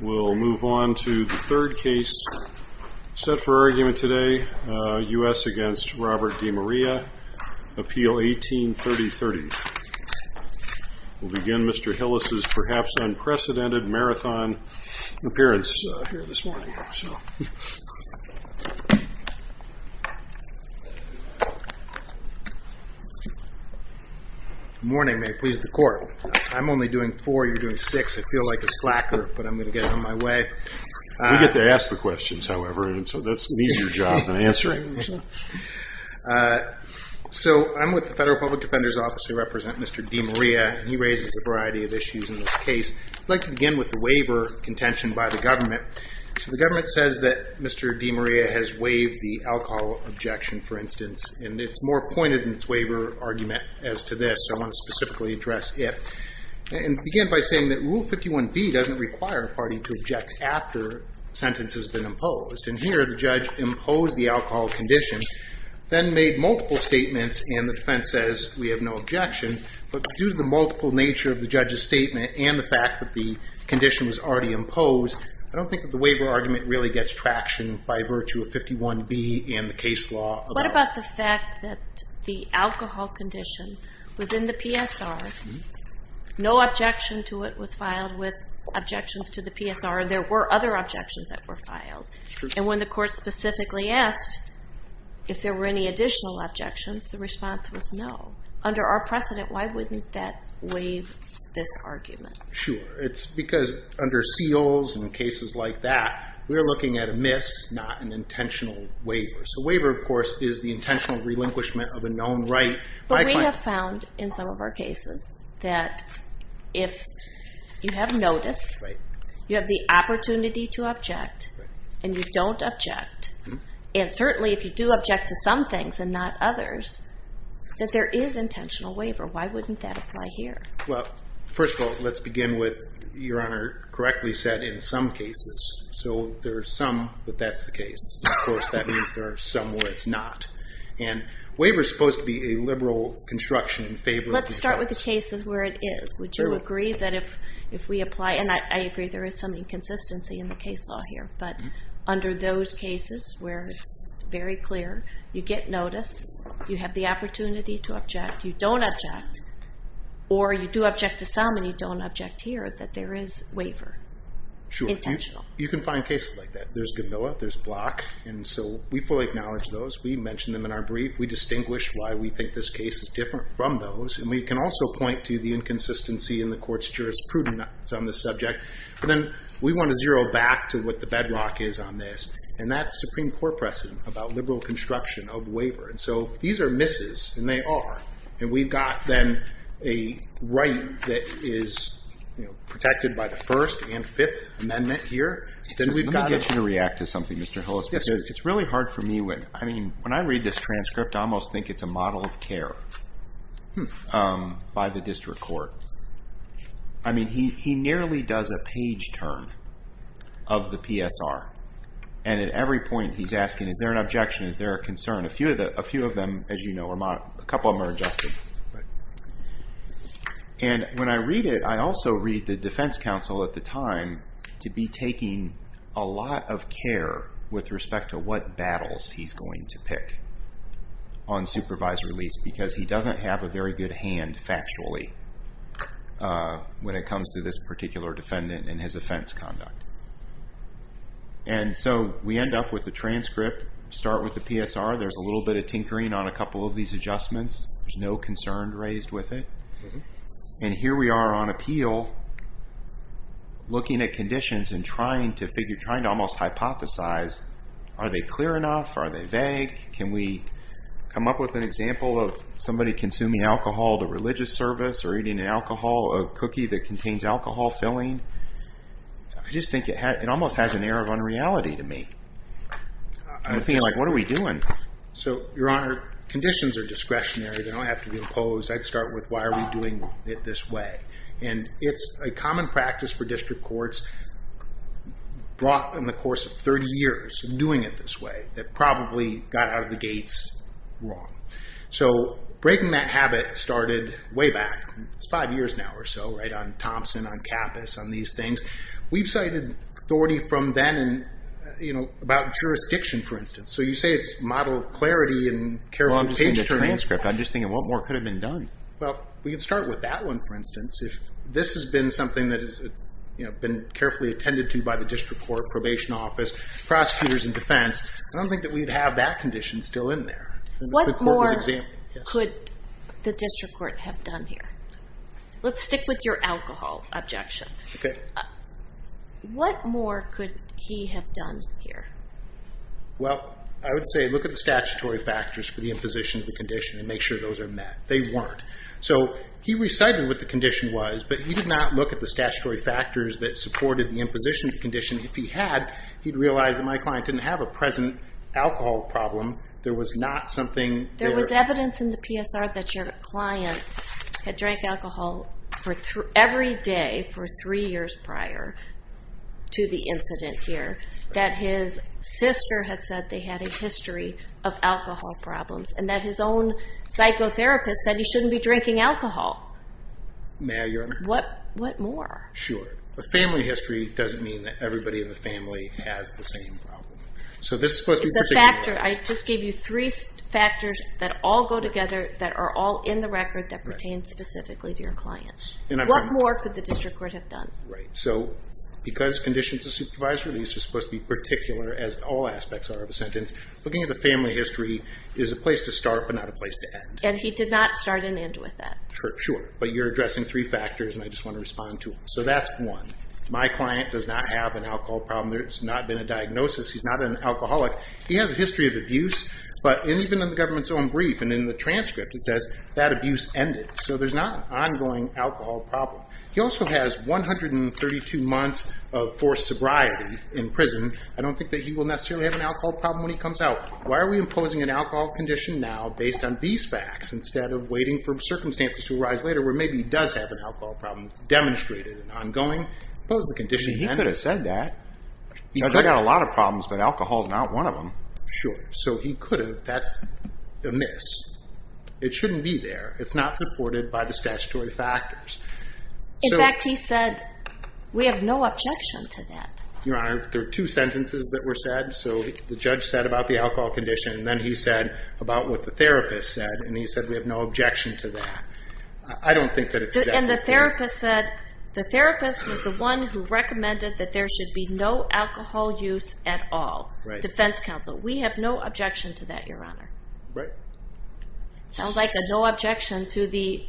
We will move on to the third case set for argument today, U.S. v. Robert Demaria, Appeal 18-3030. We will begin Mr. Hillis' perhaps unprecedented marathon appearance here this morning. Good morning. May it please the Court. I am only doing four, you are doing six. I feel like a slacker, but I'm going to get it on my way. We get to ask the questions, however, and so that's an easier job than answering them. So I'm with the Federal Public Defender's Office. I represent Mr. Demaria, and he raises a variety of issues in this case. I'd like to begin with the waiver contention by the government. So the government says that Mr. Demaria has waived the alcohol objection, for instance, and it's more pointed in its waiver argument as to this, so I want to specifically address it. And begin by saying that Rule 51b doesn't require a party to object after a sentence has been imposed, and here the judge imposed the alcohol condition, then made multiple statements, and the defense says we have no objection, but due to the multiple nature of the judge's statement and the fact that the condition was already imposed, I don't think that the waiver argument really gets traction by virtue of 51b and the case law. What about the fact that the alcohol condition was in the PSR, no objection to it was filed with objections to the PSR, and there were other objections that were filed, and when the court specifically asked if there were any additional objections, the response was no. Under our precedent, why wouldn't that waive this argument? Sure. It's because under seals and cases like that, we're looking at a miss, not an intentional waiver. A waiver, of course, is the intentional relinquishment of a known right. But we have found in some of our cases that if you have notice, you have the opportunity to object, and you don't object, and certainly if you do object to some things and not others, that there is intentional waiver. Why wouldn't that apply here? Well, first of all, let's begin with, Your Honor correctly said, in some cases. So there are some that that's the case. Of course, that means there are some where it's not. And waiver is supposed to be a liberal construction in favor of defense. Let's start with the cases where it is. Would you agree that if we apply, and I agree there is some inconsistency in the case law here, but under those cases where it's very clear, you get notice, you have the opportunity to object, you don't object, or you do object to some, and you don't object here, that there is waiver. Sure. You can find cases like that. There's Gamilla. There's Block. And so we fully acknowledge those. We mentioned them in our brief. We distinguish why we think this case is different from those. And we can also point to the inconsistency in the court's jurisprudence on this subject. And then we want to zero back to what the bedrock is on this. And that's Supreme Court precedent about liberal construction of waiver. And so these are misses, and they are. And we've got then a right that is protected by the First and Fifth Amendment here. Let me get you to react to something, Mr. Hillis. It's really hard for me when I read this transcript, I almost think it's a model of care by the district court. I mean, he nearly does a page turn of the PSR. And at every point he's asking, is there an objection? Is there a concern? A few of them, as you know, are modeled. A couple of them are adjusted. And when I read it, I also read the defense counsel at the time to be taking a lot of care with respect to what battles he's going to pick on supervised release because he doesn't have a very good hand factually when it comes to this particular defendant and his offense conduct. And so we end up with the transcript. Start with the PSR. There's a little bit of tinkering on a couple of these adjustments. There's no concern raised with it. And here we are on appeal looking at conditions and trying to almost hypothesize. Are they clear enough? Are they vague? Can we come up with an example of somebody consuming alcohol to religious service or eating an alcohol cookie that contains alcohol filling? I just think it almost has an air of unreality to me. I feel like, what are we doing? So, Your Honor, conditions are discretionary. They don't have to be imposed. I'd start with, why are we doing it this way? And it's a common practice for district courts brought in the course of 30 years doing it this way that probably got out of the gates wrong. So breaking that habit started way back. It's five years now or so, right, on Thompson, on Cappus, on these things. We've cited authority from then about jurisdiction, for instance. So you say it's model clarity and careful page turning. I'm just thinking, what more could have been done? Well, we can start with that one, for instance. If this has been something that has been carefully attended to by the district court, probation office, prosecutors and defense, I don't think that we'd have that condition still in there. What more could the district court have done here? Let's stick with your alcohol objection. What more could he have done here? Well, I would say look at the statutory factors for the imposition of the condition and make sure those are met. They weren't. So he recited what the condition was, but he did not look at the statutory factors that supported the imposition of the condition. If he had, he'd realize that my client didn't have a present alcohol problem. There was not something there. There was evidence in the PSR that your client had drank alcohol every day for three years prior to the incident here, that his sister had said they had a history of alcohol problems, and that his own psychotherapist said he shouldn't be drinking alcohol. May I, Your Honor? What more? Sure. A family history doesn't mean that everybody in the family has the same problem. It's a factor. I just gave you three factors that all go together that are all in the record that pertain specifically to your client. What more could the district court have done? Right. So because conditions of supervised release are supposed to be particular, as all aspects are of a sentence, looking at the family history is a place to start but not a place to end. And he did not start and end with that. Sure. But you're addressing three factors, and I just want to respond to them. So that's one. My client does not have an alcohol problem. There's not been a diagnosis. He's not an alcoholic. He has a history of abuse, but even in the government's own brief and in the transcript it says that abuse ended. So there's not an ongoing alcohol problem. He also has 132 months of forced sobriety in prison. I don't think that he will necessarily have an alcohol problem when he comes out. Why are we imposing an alcohol condition now based on these facts instead of waiting for circumstances to arise later where maybe he does have an alcohol problem? It's demonstrated and ongoing. He could have said that. He's got a lot of problems, but alcohol is not one of them. Sure. So he could have. That's a miss. It shouldn't be there. It's not supported by the statutory factors. In fact, he said, we have no objection to that. Your Honor, there are two sentences that were said. So the judge said about the alcohol condition, and then he said about what the therapist said, and he said we have no objection to that. I don't think that it's exactly true. And the therapist said the therapist was the one who recommended that there should be no alcohol use at all, defense counsel. We have no objection to that, Your Honor. Right. Sounds like a no objection to the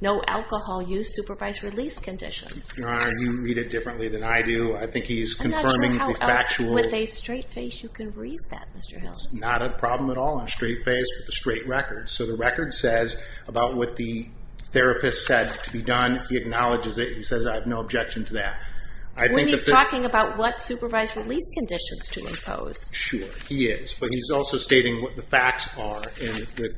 no alcohol use supervised release condition. Your Honor, you read it differently than I do. I think he's confirming the factual. I'm not sure how else with a straight face you can read that, Mr. Hill. It's not a problem at all on a straight face with a straight record. So the record says about what the therapist said to be done. He acknowledges it. He says I have no objection to that. When he's talking about what supervised release conditions to impose. Sure, he is. But he's also stating what the facts are. And the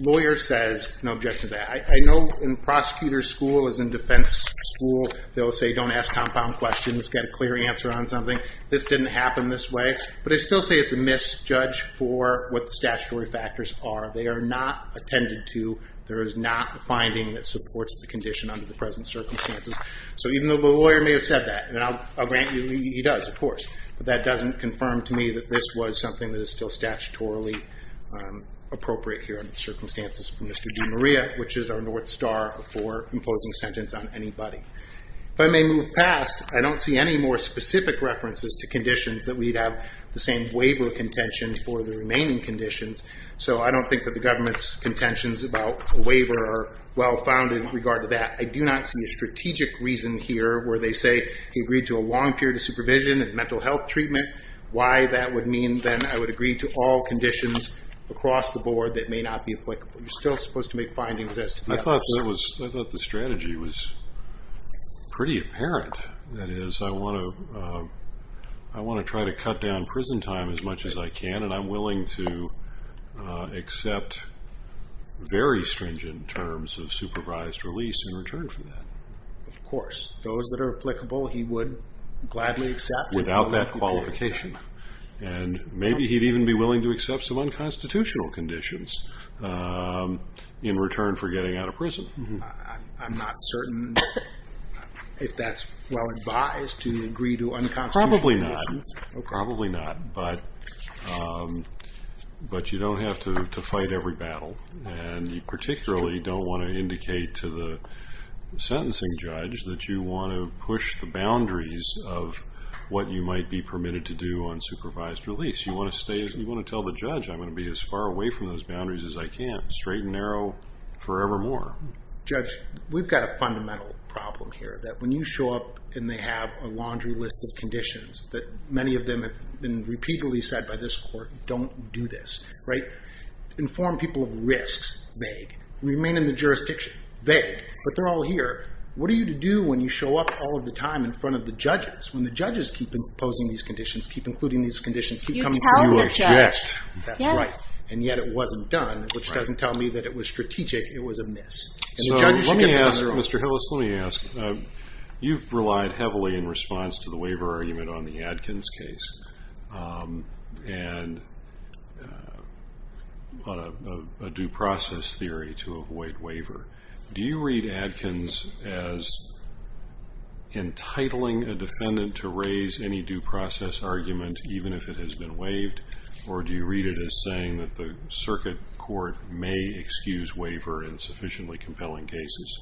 lawyer says no objection to that. I know in prosecutor's school, as in defense school, they'll say don't ask compound questions. Get a clear answer on something. This didn't happen this way. But I still say it's a misjudge for what the statutory factors are. They are not attended to. There is not a finding that supports the condition under the present circumstances. So even though the lawyer may have said that, and I'll grant you he does, of course, but that doesn't confirm to me that this was something that is still statutorily appropriate here under the circumstances for Mr. DiMaria, which is our North Star for imposing a sentence on anybody. If I may move past, I don't see any more specific references to conditions that we'd have the same waiver contention for the remaining conditions. So I don't think that the government's contentions about the waiver are well-founded in regard to that. I do not see a strategic reason here where they say he agreed to a long period of supervision and mental health treatment, why that would mean then I would agree to all conditions across the board that may not be applicable. You're still supposed to make findings as to that. I thought the strategy was pretty apparent. That is, I want to try to cut down prison time as much as I can, and I'm willing to accept very stringent terms of supervised release in return for that. Of course, those that are applicable he would gladly accept. Without that qualification. And maybe he'd even be willing to accept some unconstitutional conditions in return for getting out of prison. I'm not certain if that's well advised, to agree to unconstitutional conditions. Probably not, probably not, but you don't have to fight every battle, and you particularly don't want to indicate to the sentencing judge that you want to push the boundaries of what you might be permitted to do on supervised release. You want to tell the judge, I'm going to be as far away from those boundaries as I can, straight and narrow forevermore. Judge, we've got a fundamental problem here, that when you show up and they have a laundry list of conditions, that many of them have been repeatedly said by this court, don't do this. Inform people of risks, vague. Remain in the jurisdiction, vague. But they're all here. What are you to do when you show up all of the time in front of the judges, when the judges keep imposing these conditions, keep including these conditions, keep coming to you. You tell the judge. That's right. And yet it wasn't done, which doesn't tell me that it was strategic. It was a miss. So let me ask, Mr. Hillis, let me ask. You've relied heavily in response to the waiver argument on the Adkins case, and on a due process theory to avoid waiver. Do you read Adkins as entitling a defendant to raise any due process argument, even if it has been waived, or do you read it as saying that the circuit court may excuse waiver in sufficiently compelling cases?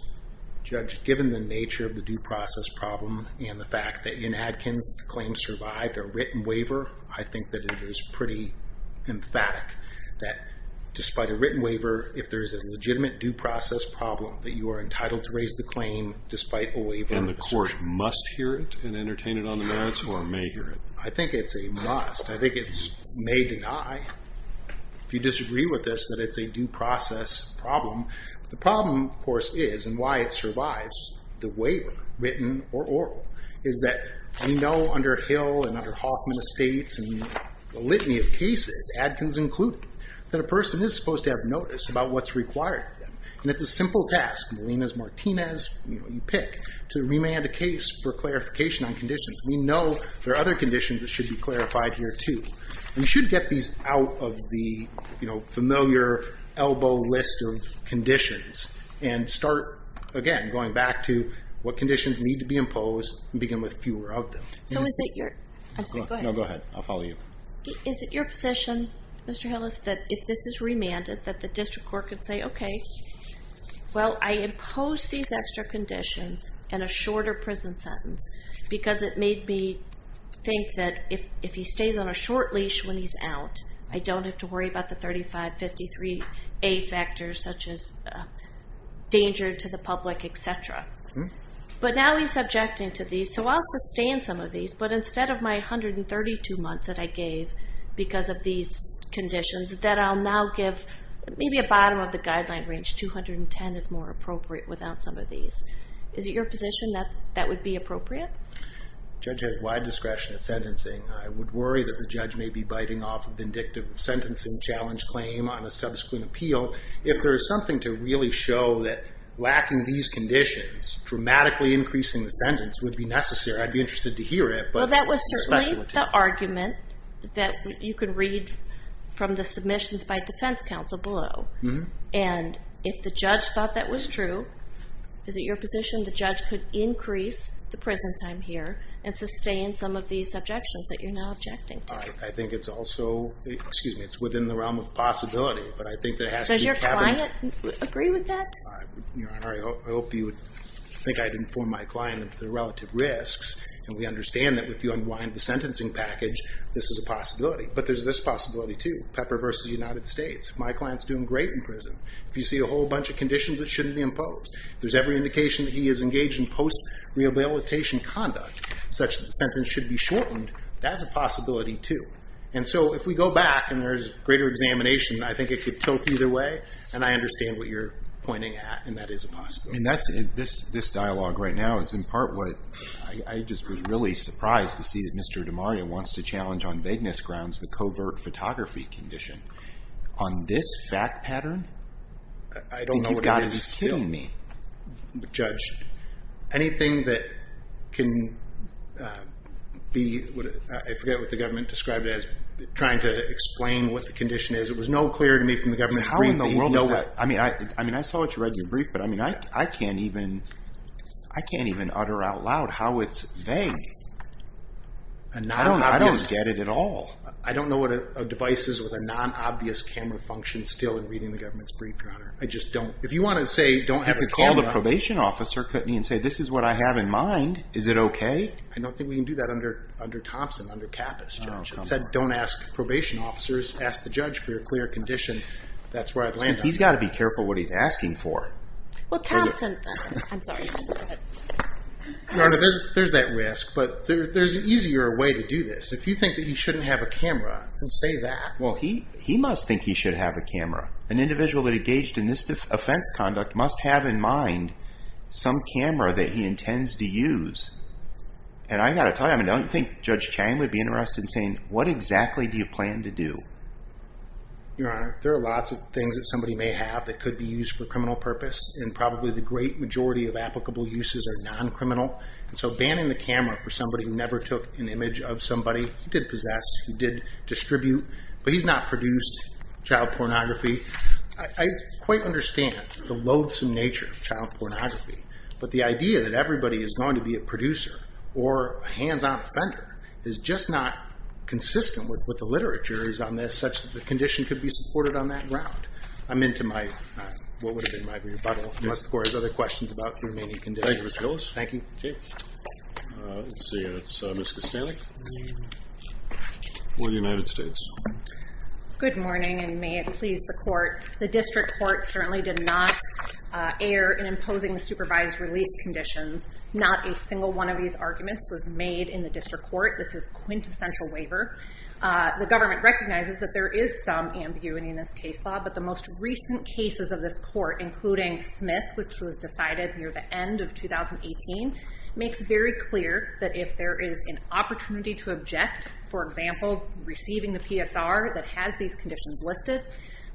Judge, given the nature of the due process problem, and the fact that in Adkins the claim survived a written waiver, I think that it is pretty emphatic that despite a written waiver, if there is a legitimate due process problem, that you are entitled to raise the claim despite a waiver. And the court must hear it and entertain it on the merits, or may hear it? I think it's a must. I think it may deny, if you disagree with this, that it's a due process problem. The problem, of course, is, and why it survives, the waiver, written or oral, is that we know under Hill and under Hoffman Estates, and a litany of cases, Adkins included, that a person is supposed to have notice about what's required of them. And it's a simple task, Molina's, Martinez, you pick, to remand a case for clarification on conditions. We know there are other conditions that should be clarified here, too. And we should get these out of the familiar elbow list of conditions and start, again, going back to what conditions need to be imposed and begin with fewer of them. So is it your... I'm sorry, go ahead. No, go ahead. I'll follow you. Is it your position, Mr. Hillis, that if this is remanded, that the district court could say, okay, well, I impose these extra conditions and a shorter prison sentence because it made me think that if he stays on a short leash when he's out, I don't have to worry about the 3553A factors, such as danger to the public, et cetera. But now he's subjecting to these, so I'll sustain some of these. But instead of my 132 months that I gave because of these conditions, that I'll now give maybe a bottom-of-the-guideline range, 210 is more appropriate without some of these. Is it your position that that would be appropriate? The judge has wide discretion in sentencing. I would worry that the judge may be biting off a vindictive sentencing challenge claim on a subsequent appeal. If there is something to really show that lacking these conditions, dramatically increasing the sentence, would be necessary, I'd be interested to hear it. Well, that was certainly the argument that you could read from the submissions by defense counsel below. And if the judge thought that was true, is it your position the judge could increase the prison time here and sustain some of these subjections that you're now objecting to? I think it's also within the realm of possibility. But I think there has to be fabric. Does your client agree with that? Your Honor, I think I'd inform my client of the relative risks, and we understand that if you unwind the sentencing package, this is a possibility. But there's this possibility too, Pepper v. United States. My client's doing great in prison. If you see a whole bunch of conditions that shouldn't be imposed, there's every indication that he is engaged in post-rehabilitation conduct such that the sentence should be shortened. That's a possibility too. And so if we go back and there's greater examination, I think it could tilt either way, and I understand what you're pointing at, and that is a possibility. This dialogue right now is in part what I just was really surprised to see that Mr. DiMaria wants to challenge on vagueness grounds the covert photography condition. On this fact pattern? I don't know what it is. You've got to be kidding me. Judge, anything that can be, I forget what the government described it as, trying to explain what the condition is. It was no clear to me from the government brief that you'd know that. I saw what you read in your brief, but I can't even utter out loud how it's vague. I don't get it at all. I don't know what a device is with a non-obvious camera function still in reading the government's brief, Your Honor. I just don't. If you want to say don't have a camera. I could call the probation officer, Courtney, and say this is what I have in mind. Is it okay? I don't think we can do that under Thompson, under Kappus, Judge. It said don't ask probation officers. Ask the judge for your clear condition. That's where I'd land on that. He's got to be careful what he's asking for. Well, Thompson, I'm sorry. Your Honor, there's that risk, but there's an easier way to do this. If you think that he shouldn't have a camera, then say that. Well, he must think he should have a camera. An individual that engaged in this offense conduct must have in mind some camera that he intends to use. And I've got to tell you, I don't think Judge Chang would be interested in saying what exactly do you plan to do. Your Honor, there are lots of things that somebody may have that could be used for criminal purpose and probably the great majority of applicable uses are non-criminal. So banning the camera for somebody who never took an image of somebody, he did possess, he did distribute, but he's not produced child pornography. I quite understand the loathsome nature of child pornography, but the idea that everybody is going to be a producer or a hands-on offender is just not consistent with the literature on this such that the condition could be supported on that ground. I'm into my, what would have been my rebuttal, unless the Court has other questions about the remaining conditions. Thank you, Mr. Gilles. Thank you. Let's see. It's Ms. Kostanek for the United States. Good morning, and may it please the Court. The District Court certainly did not err in imposing the supervised release conditions. Not a single one of these arguments was made in the District Court. This is quintessential waiver. The government recognizes that there is some ambiguity in this case law, but the most recent cases of this Court, including Smith, which was decided near the end of 2018, makes very clear that if there is an opportunity to object, for example receiving the PSR that has these conditions listed,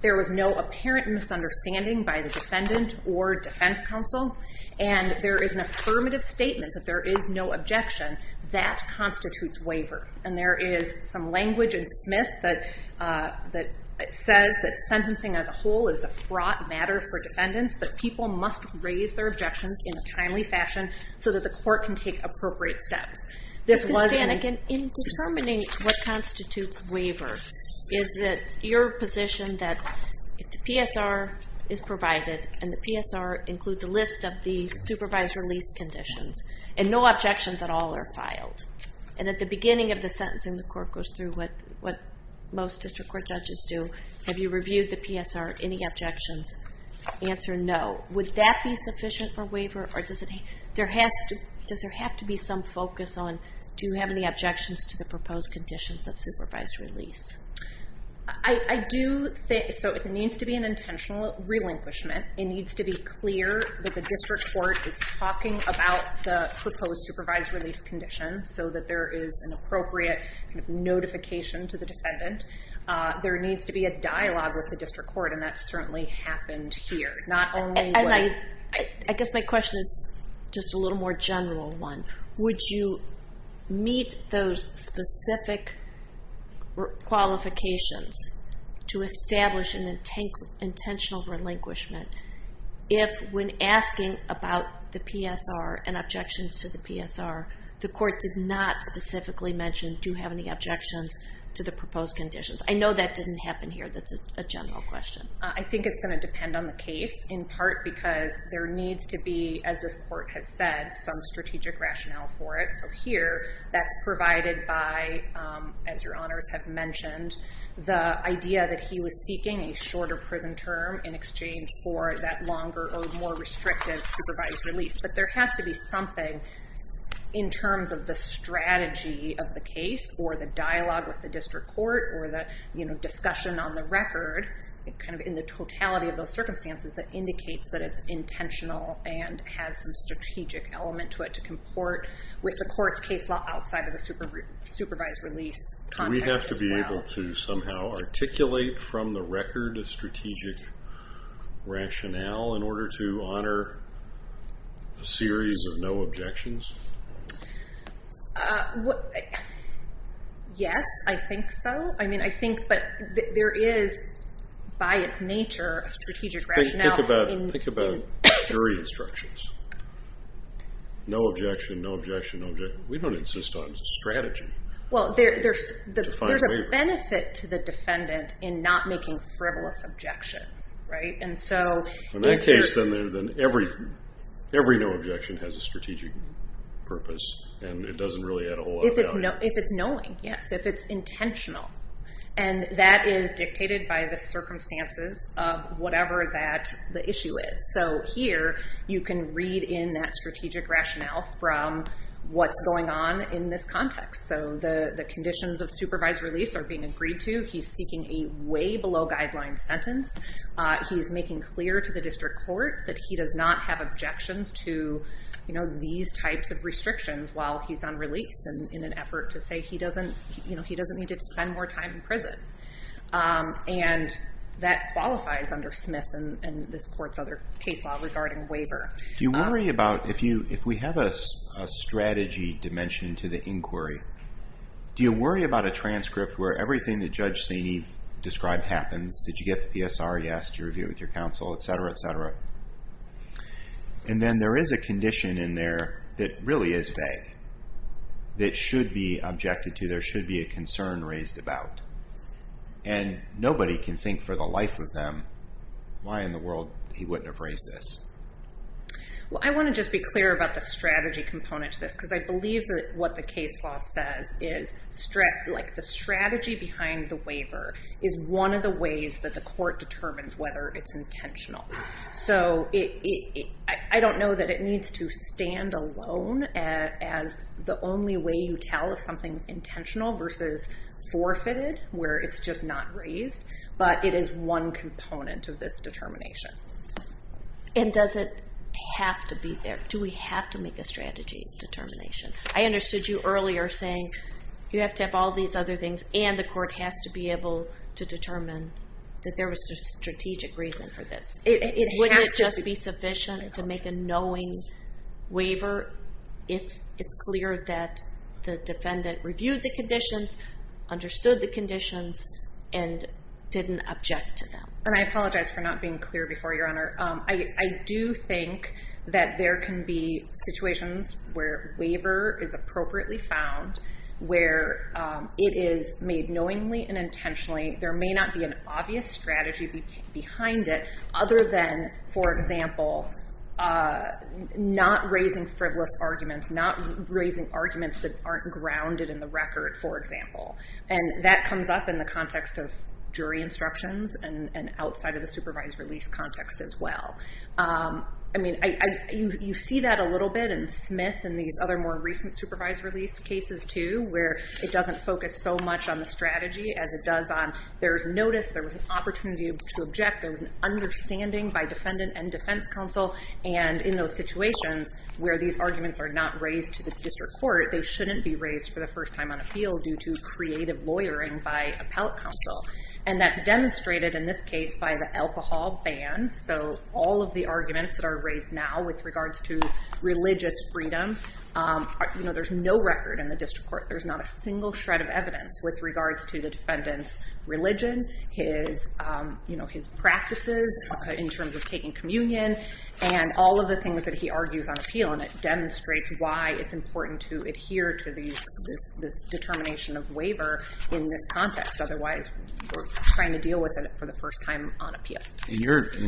there was no apparent misunderstanding by the defendant or defense counsel, and there is an affirmative statement that there is no objection, that constitutes waiver. And there is some language in Smith that says that sentencing as a whole is a fraught matter for defendants, but people must raise their objections in a timely fashion so that the Court can take appropriate steps. Ms. Kostanek, in determining what constitutes waiver, is it your position that if the PSR is provided and the PSR includes a list of the supervised release conditions and no objections at all are filed, and at the beginning of the sentencing, the Court goes through what most District Court judges do, have you reviewed the PSR, any objections, answer no, would that be sufficient for waiver, or does there have to be some focus on do you have any objections to the proposed conditions of supervised release? I do think, so it needs to be an intentional relinquishment. It needs to be clear that the District Court is talking about the proposed supervised release conditions so that there is an appropriate notification to the defendant. There needs to be a dialogue with the District Court, and that certainly happened here. And I guess my question is just a little more general one. Would you meet those specific qualifications to establish an intentional relinquishment if when asking about the PSR and objections to the PSR, the Court did not specifically mention do you have any objections to the proposed conditions? I know that didn't happen here. That's a general question. I think it's going to depend on the case, in part because there needs to be, as this Court has said, some strategic rationale for it. So here, that's provided by, as your honors have mentioned, the idea that he was seeking a shorter prison term in exchange for that longer or more restrictive supervised release. But there has to be something in terms of the strategy of the case or the dialogue with the District Court or the discussion on the record, kind of in the totality of those circumstances, that indicates that it's intentional and has some strategic element to it to comport with the Court's case law outside of the supervised release context as well. Do we have to be able to somehow articulate from the record a strategic rationale in order to honor a series of no objections? Yes, I think so. But there is, by its nature, a strategic rationale. Think about jury instructions. No objection, no objection, no objection. We don't insist on strategy. Well, there's a benefit to the defendant in not making frivolous objections, right? In that case, then every no objection has a strategic purpose, and it doesn't really add a whole lot of value. If it's knowing, yes, if it's intentional. And that is dictated by the circumstances of whatever the issue is. So here, you can read in that strategic rationale from what's going on in this context. So the conditions of supervised release are being agreed to. He's seeking a way-below-guidelines sentence. He's making clear to the district court that he does not have objections to these types of restrictions while he's on release in an effort to say he doesn't need to spend more time in prison. And that qualifies under Smith and this Court's other case law regarding waiver. Do you worry about if we have a strategy dimension to the inquiry, do you worry about a transcript where everything that Judge Saney described happens? Did you get the PSR? Yes. Did you review it with your counsel? Et cetera, et cetera. And then there is a condition in there that really is vague that should be objected to. There should be a concern raised about. And nobody can think for the life of them why in the world he wouldn't have raised this. Well, I want to just be clear about the strategy component to this because I believe that what the case law says is the strategy behind the waiver is one of the ways that the court determines whether it's intentional. So I don't know that it needs to stand alone as the only way you tell if something's intentional versus forfeited where it's just not raised, but it is one component of this determination. And does it have to be there? Do we have to make a strategy determination? I understood you earlier saying you have to have all these other things and the court has to be able to determine that there was a strategic reason for this. Wouldn't it just be sufficient to make a knowing waiver if it's clear that the defendant reviewed the conditions, understood the conditions, and didn't object to them? And I apologize for not being clear before, Your Honor. I do think that there can be situations where waiver is appropriately found, where it is made knowingly and intentionally. There may not be an obvious strategy behind it other than, for example, not raising frivolous arguments, not raising arguments that aren't grounded in the record, for example. And that comes up in the context of jury instructions and outside of the supervised release context as well. I mean, you see that a little bit in Smith and these other more recent supervised release cases too, where it doesn't focus so much on the strategy as it does on there's notice, there was an opportunity to object, there was an understanding by defendant and defense counsel. And in those situations where these arguments are not raised to the district court, they shouldn't be raised for the first time on appeal due to creative lawyering by appellate counsel. And that's demonstrated in this case by the alcohol ban. So all of the arguments that are raised now with regards to religious freedom, there's no record in the district court. There's not a single shred of evidence with regards to the defendant's religion, his practices in terms of taking communion, and all of the things that he argues on appeal. And it demonstrates why it's important to adhere to this determination of waiver in this context. In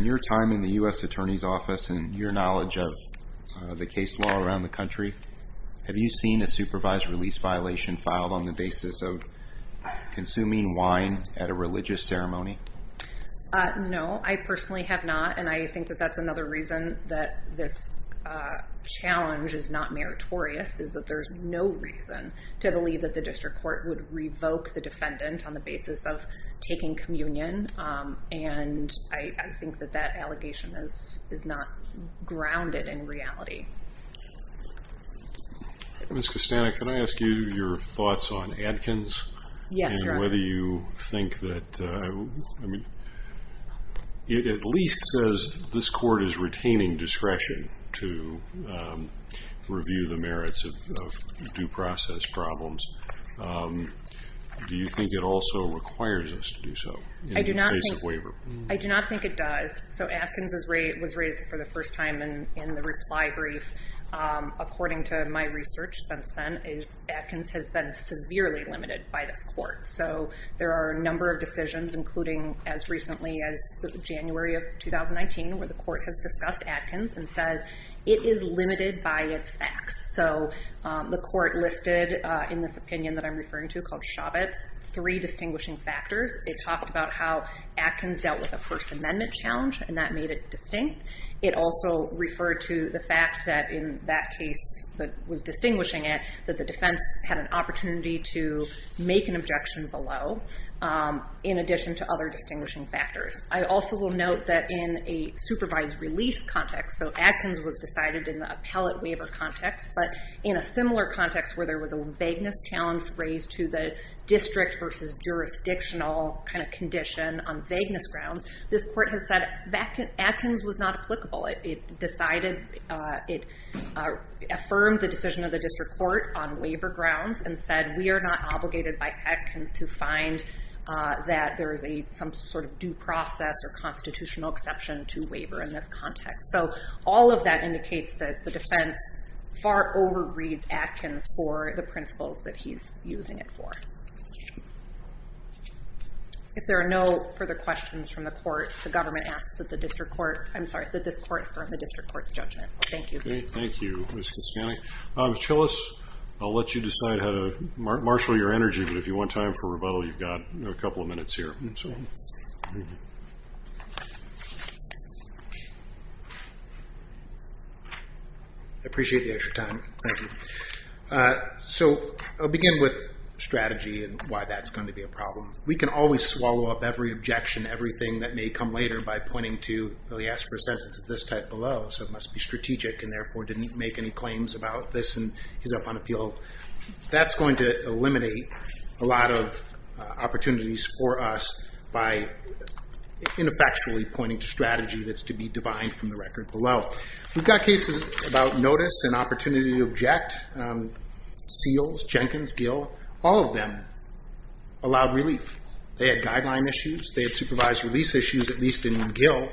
your time in the U.S. Attorney's Office and your knowledge of the case law around the country, have you seen a supervised release violation filed on the basis of consuming wine at a religious ceremony? No, I personally have not. And I think that that's another reason that this challenge is not meritorious, is that there's no reason to believe that the district court would revoke the defendant on the basis of taking communion. And I think that that allegation is not grounded in reality. Ms. Costana, can I ask you your thoughts on Adkins? Yes, sir. And whether you think that, I mean, it at least says this court is retaining discretion to review the merits of due process problems. Do you think it also requires us to do so? I do not think it does. So Adkins was raised for the first time in the reply brief. According to my research since then, is Adkins has been severely limited by this court. So there are a number of decisions, including as recently as January of 2019, where the court has discussed Adkins and said, it is limited by its facts. So the court listed in this opinion that I'm referring to called three distinguishing factors. It talked about how Adkins dealt with a First Amendment challenge and that made it distinct. It also referred to the fact that in that case, that was distinguishing it, that the defense had an opportunity to make an objection below in addition to other distinguishing factors. I also will note that in a supervised release context, so Adkins was decided in the appellate waiver context, but in a similar context where there was a vagueness challenge raised to the district versus jurisdictional kind of condition on vagueness grounds, this court has said Adkins was not applicable. It decided, it affirmed the decision of the district court on waiver grounds and said, we are not obligated by Adkins to find that there is a, some sort of due process or constitutional exception to waiver in this context. So all of that indicates that the defense far over reads Adkins for the district court. If there are no further questions from the court, the government asks that the district court, I'm sorry, that this court affirmed the district court's judgment. Thank you. Okay. Thank you, Mr. Skany. Mr. Tillis, I'll let you decide how to marshal your energy, but if you want time for rebuttal, you've got a couple of minutes here. I appreciate the extra time. Thank you. So I'll begin with strategy and why that's going to be a problem. We can always swallow up every objection, everything that may come later by pointing to, well he asked for a sentence of this type below, so it must be strategic and therefore didn't make any claims about this. And he's up on appeal. That's going to eliminate a lot of opportunities for us by ineffectually pointing to strategy that's to be divine from the record below. So we've got cases about notice and opportunity to object. Seals, Jenkins, Gill, all of them allowed relief. They had guideline issues. They had supervised release issues, at least in Gill.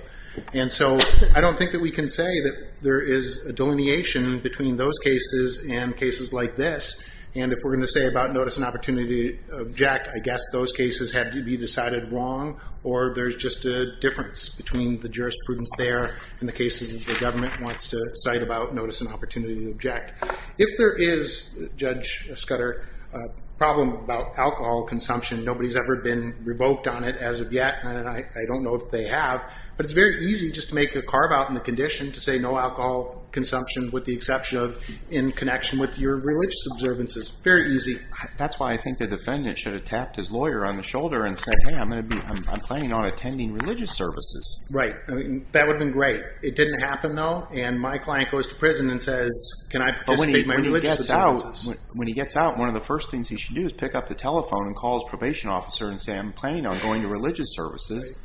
And so I don't think that we can say that there is a delineation between those cases and cases like this. And if we're going to say about notice and opportunity to object, I guess those cases have to be decided wrong, or there's just a difference between the jurisprudence there and the cases that the government wants to cite about notice and opportunity to object. If there is, Judge Scudder, a problem about alcohol consumption, nobody's ever been revoked on it as of yet. And I don't know if they have, but it's very easy just to make a carve out in the condition to say no alcohol consumption with the exception of in connection with your religious observances. Very easy. That's why I think the defendant should have tapped his lawyer on the shoulder and said, Hey, I'm going to be, I'm planning on attending religious services. Right. I mean, that would have been great. It didn't happen though. And my client goes to prison and says, can I just speak my religious observances? When he gets out, one of the first things he should do is pick up the telephone and call his probation officer and say, I'm planning on going to religious services.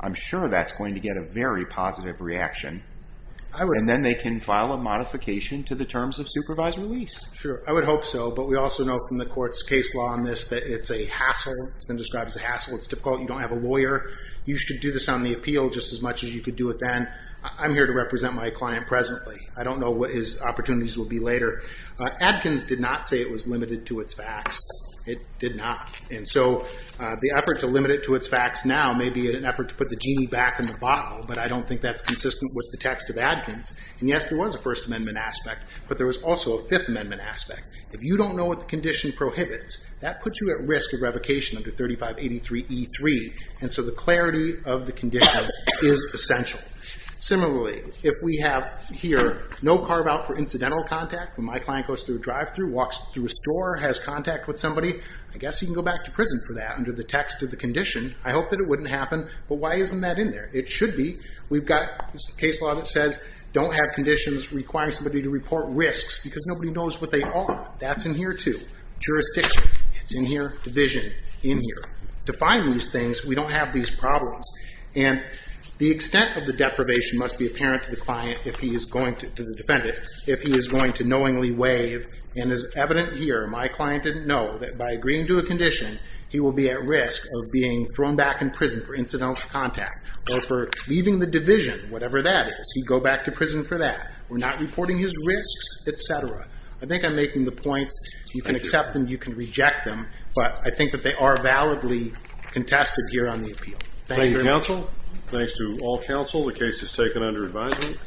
I'm sure that's going to get a very positive reaction. And then they can file a modification to the terms of supervised release. Sure. I would hope so. But we also know from the court's case law on this, that it's a hassle. It's been described as a hassle. It's difficult. You don't have a lawyer. You should do this on the appeal just as much as you could do it then. I'm here to represent my client presently. I don't know what his opportunities will be later. Adkins did not say it was limited to its facts. It did not. And so the effort to limit it to its facts now may be an effort to put the genie back in the bottle, but I don't think that's consistent with the text of Adkins. And yes, there was a first amendment aspect, but there was also a fifth amendment aspect. If you don't know what the condition prohibits, that puts you at risk of revocation under 3583 E3. And so the clarity of the condition is essential. Similarly, if we have here no carve out for incidental contact, when my client goes through a drive-thru, walks through a store, has contact with somebody, I guess he can go back to prison for that under the text of the condition. I hope that it wouldn't happen. But why isn't that in there? It should be. We've got a case law that says don't have conditions requiring somebody to report risks because nobody knows what they are. That's in here too. Jurisdiction. It's in here. Division. In here. If we can define these things, we don't have these problems and the extent of the deprivation must be apparent to the client if he is going to, to the defendant, if he is going to knowingly waive and is evident here. My client didn't know that by agreeing to a condition, he will be at risk of being thrown back in prison for incidental contact or for leaving the division, whatever that is. He'd go back to prison for that. We're not reporting his risks, et cetera. I think I'm making the points. You can accept them. You can reject them. But I think that they are validly contested here on the appeal. Thank you. Thank you, counsel. Thanks to all counsel. The case is taken under advisement.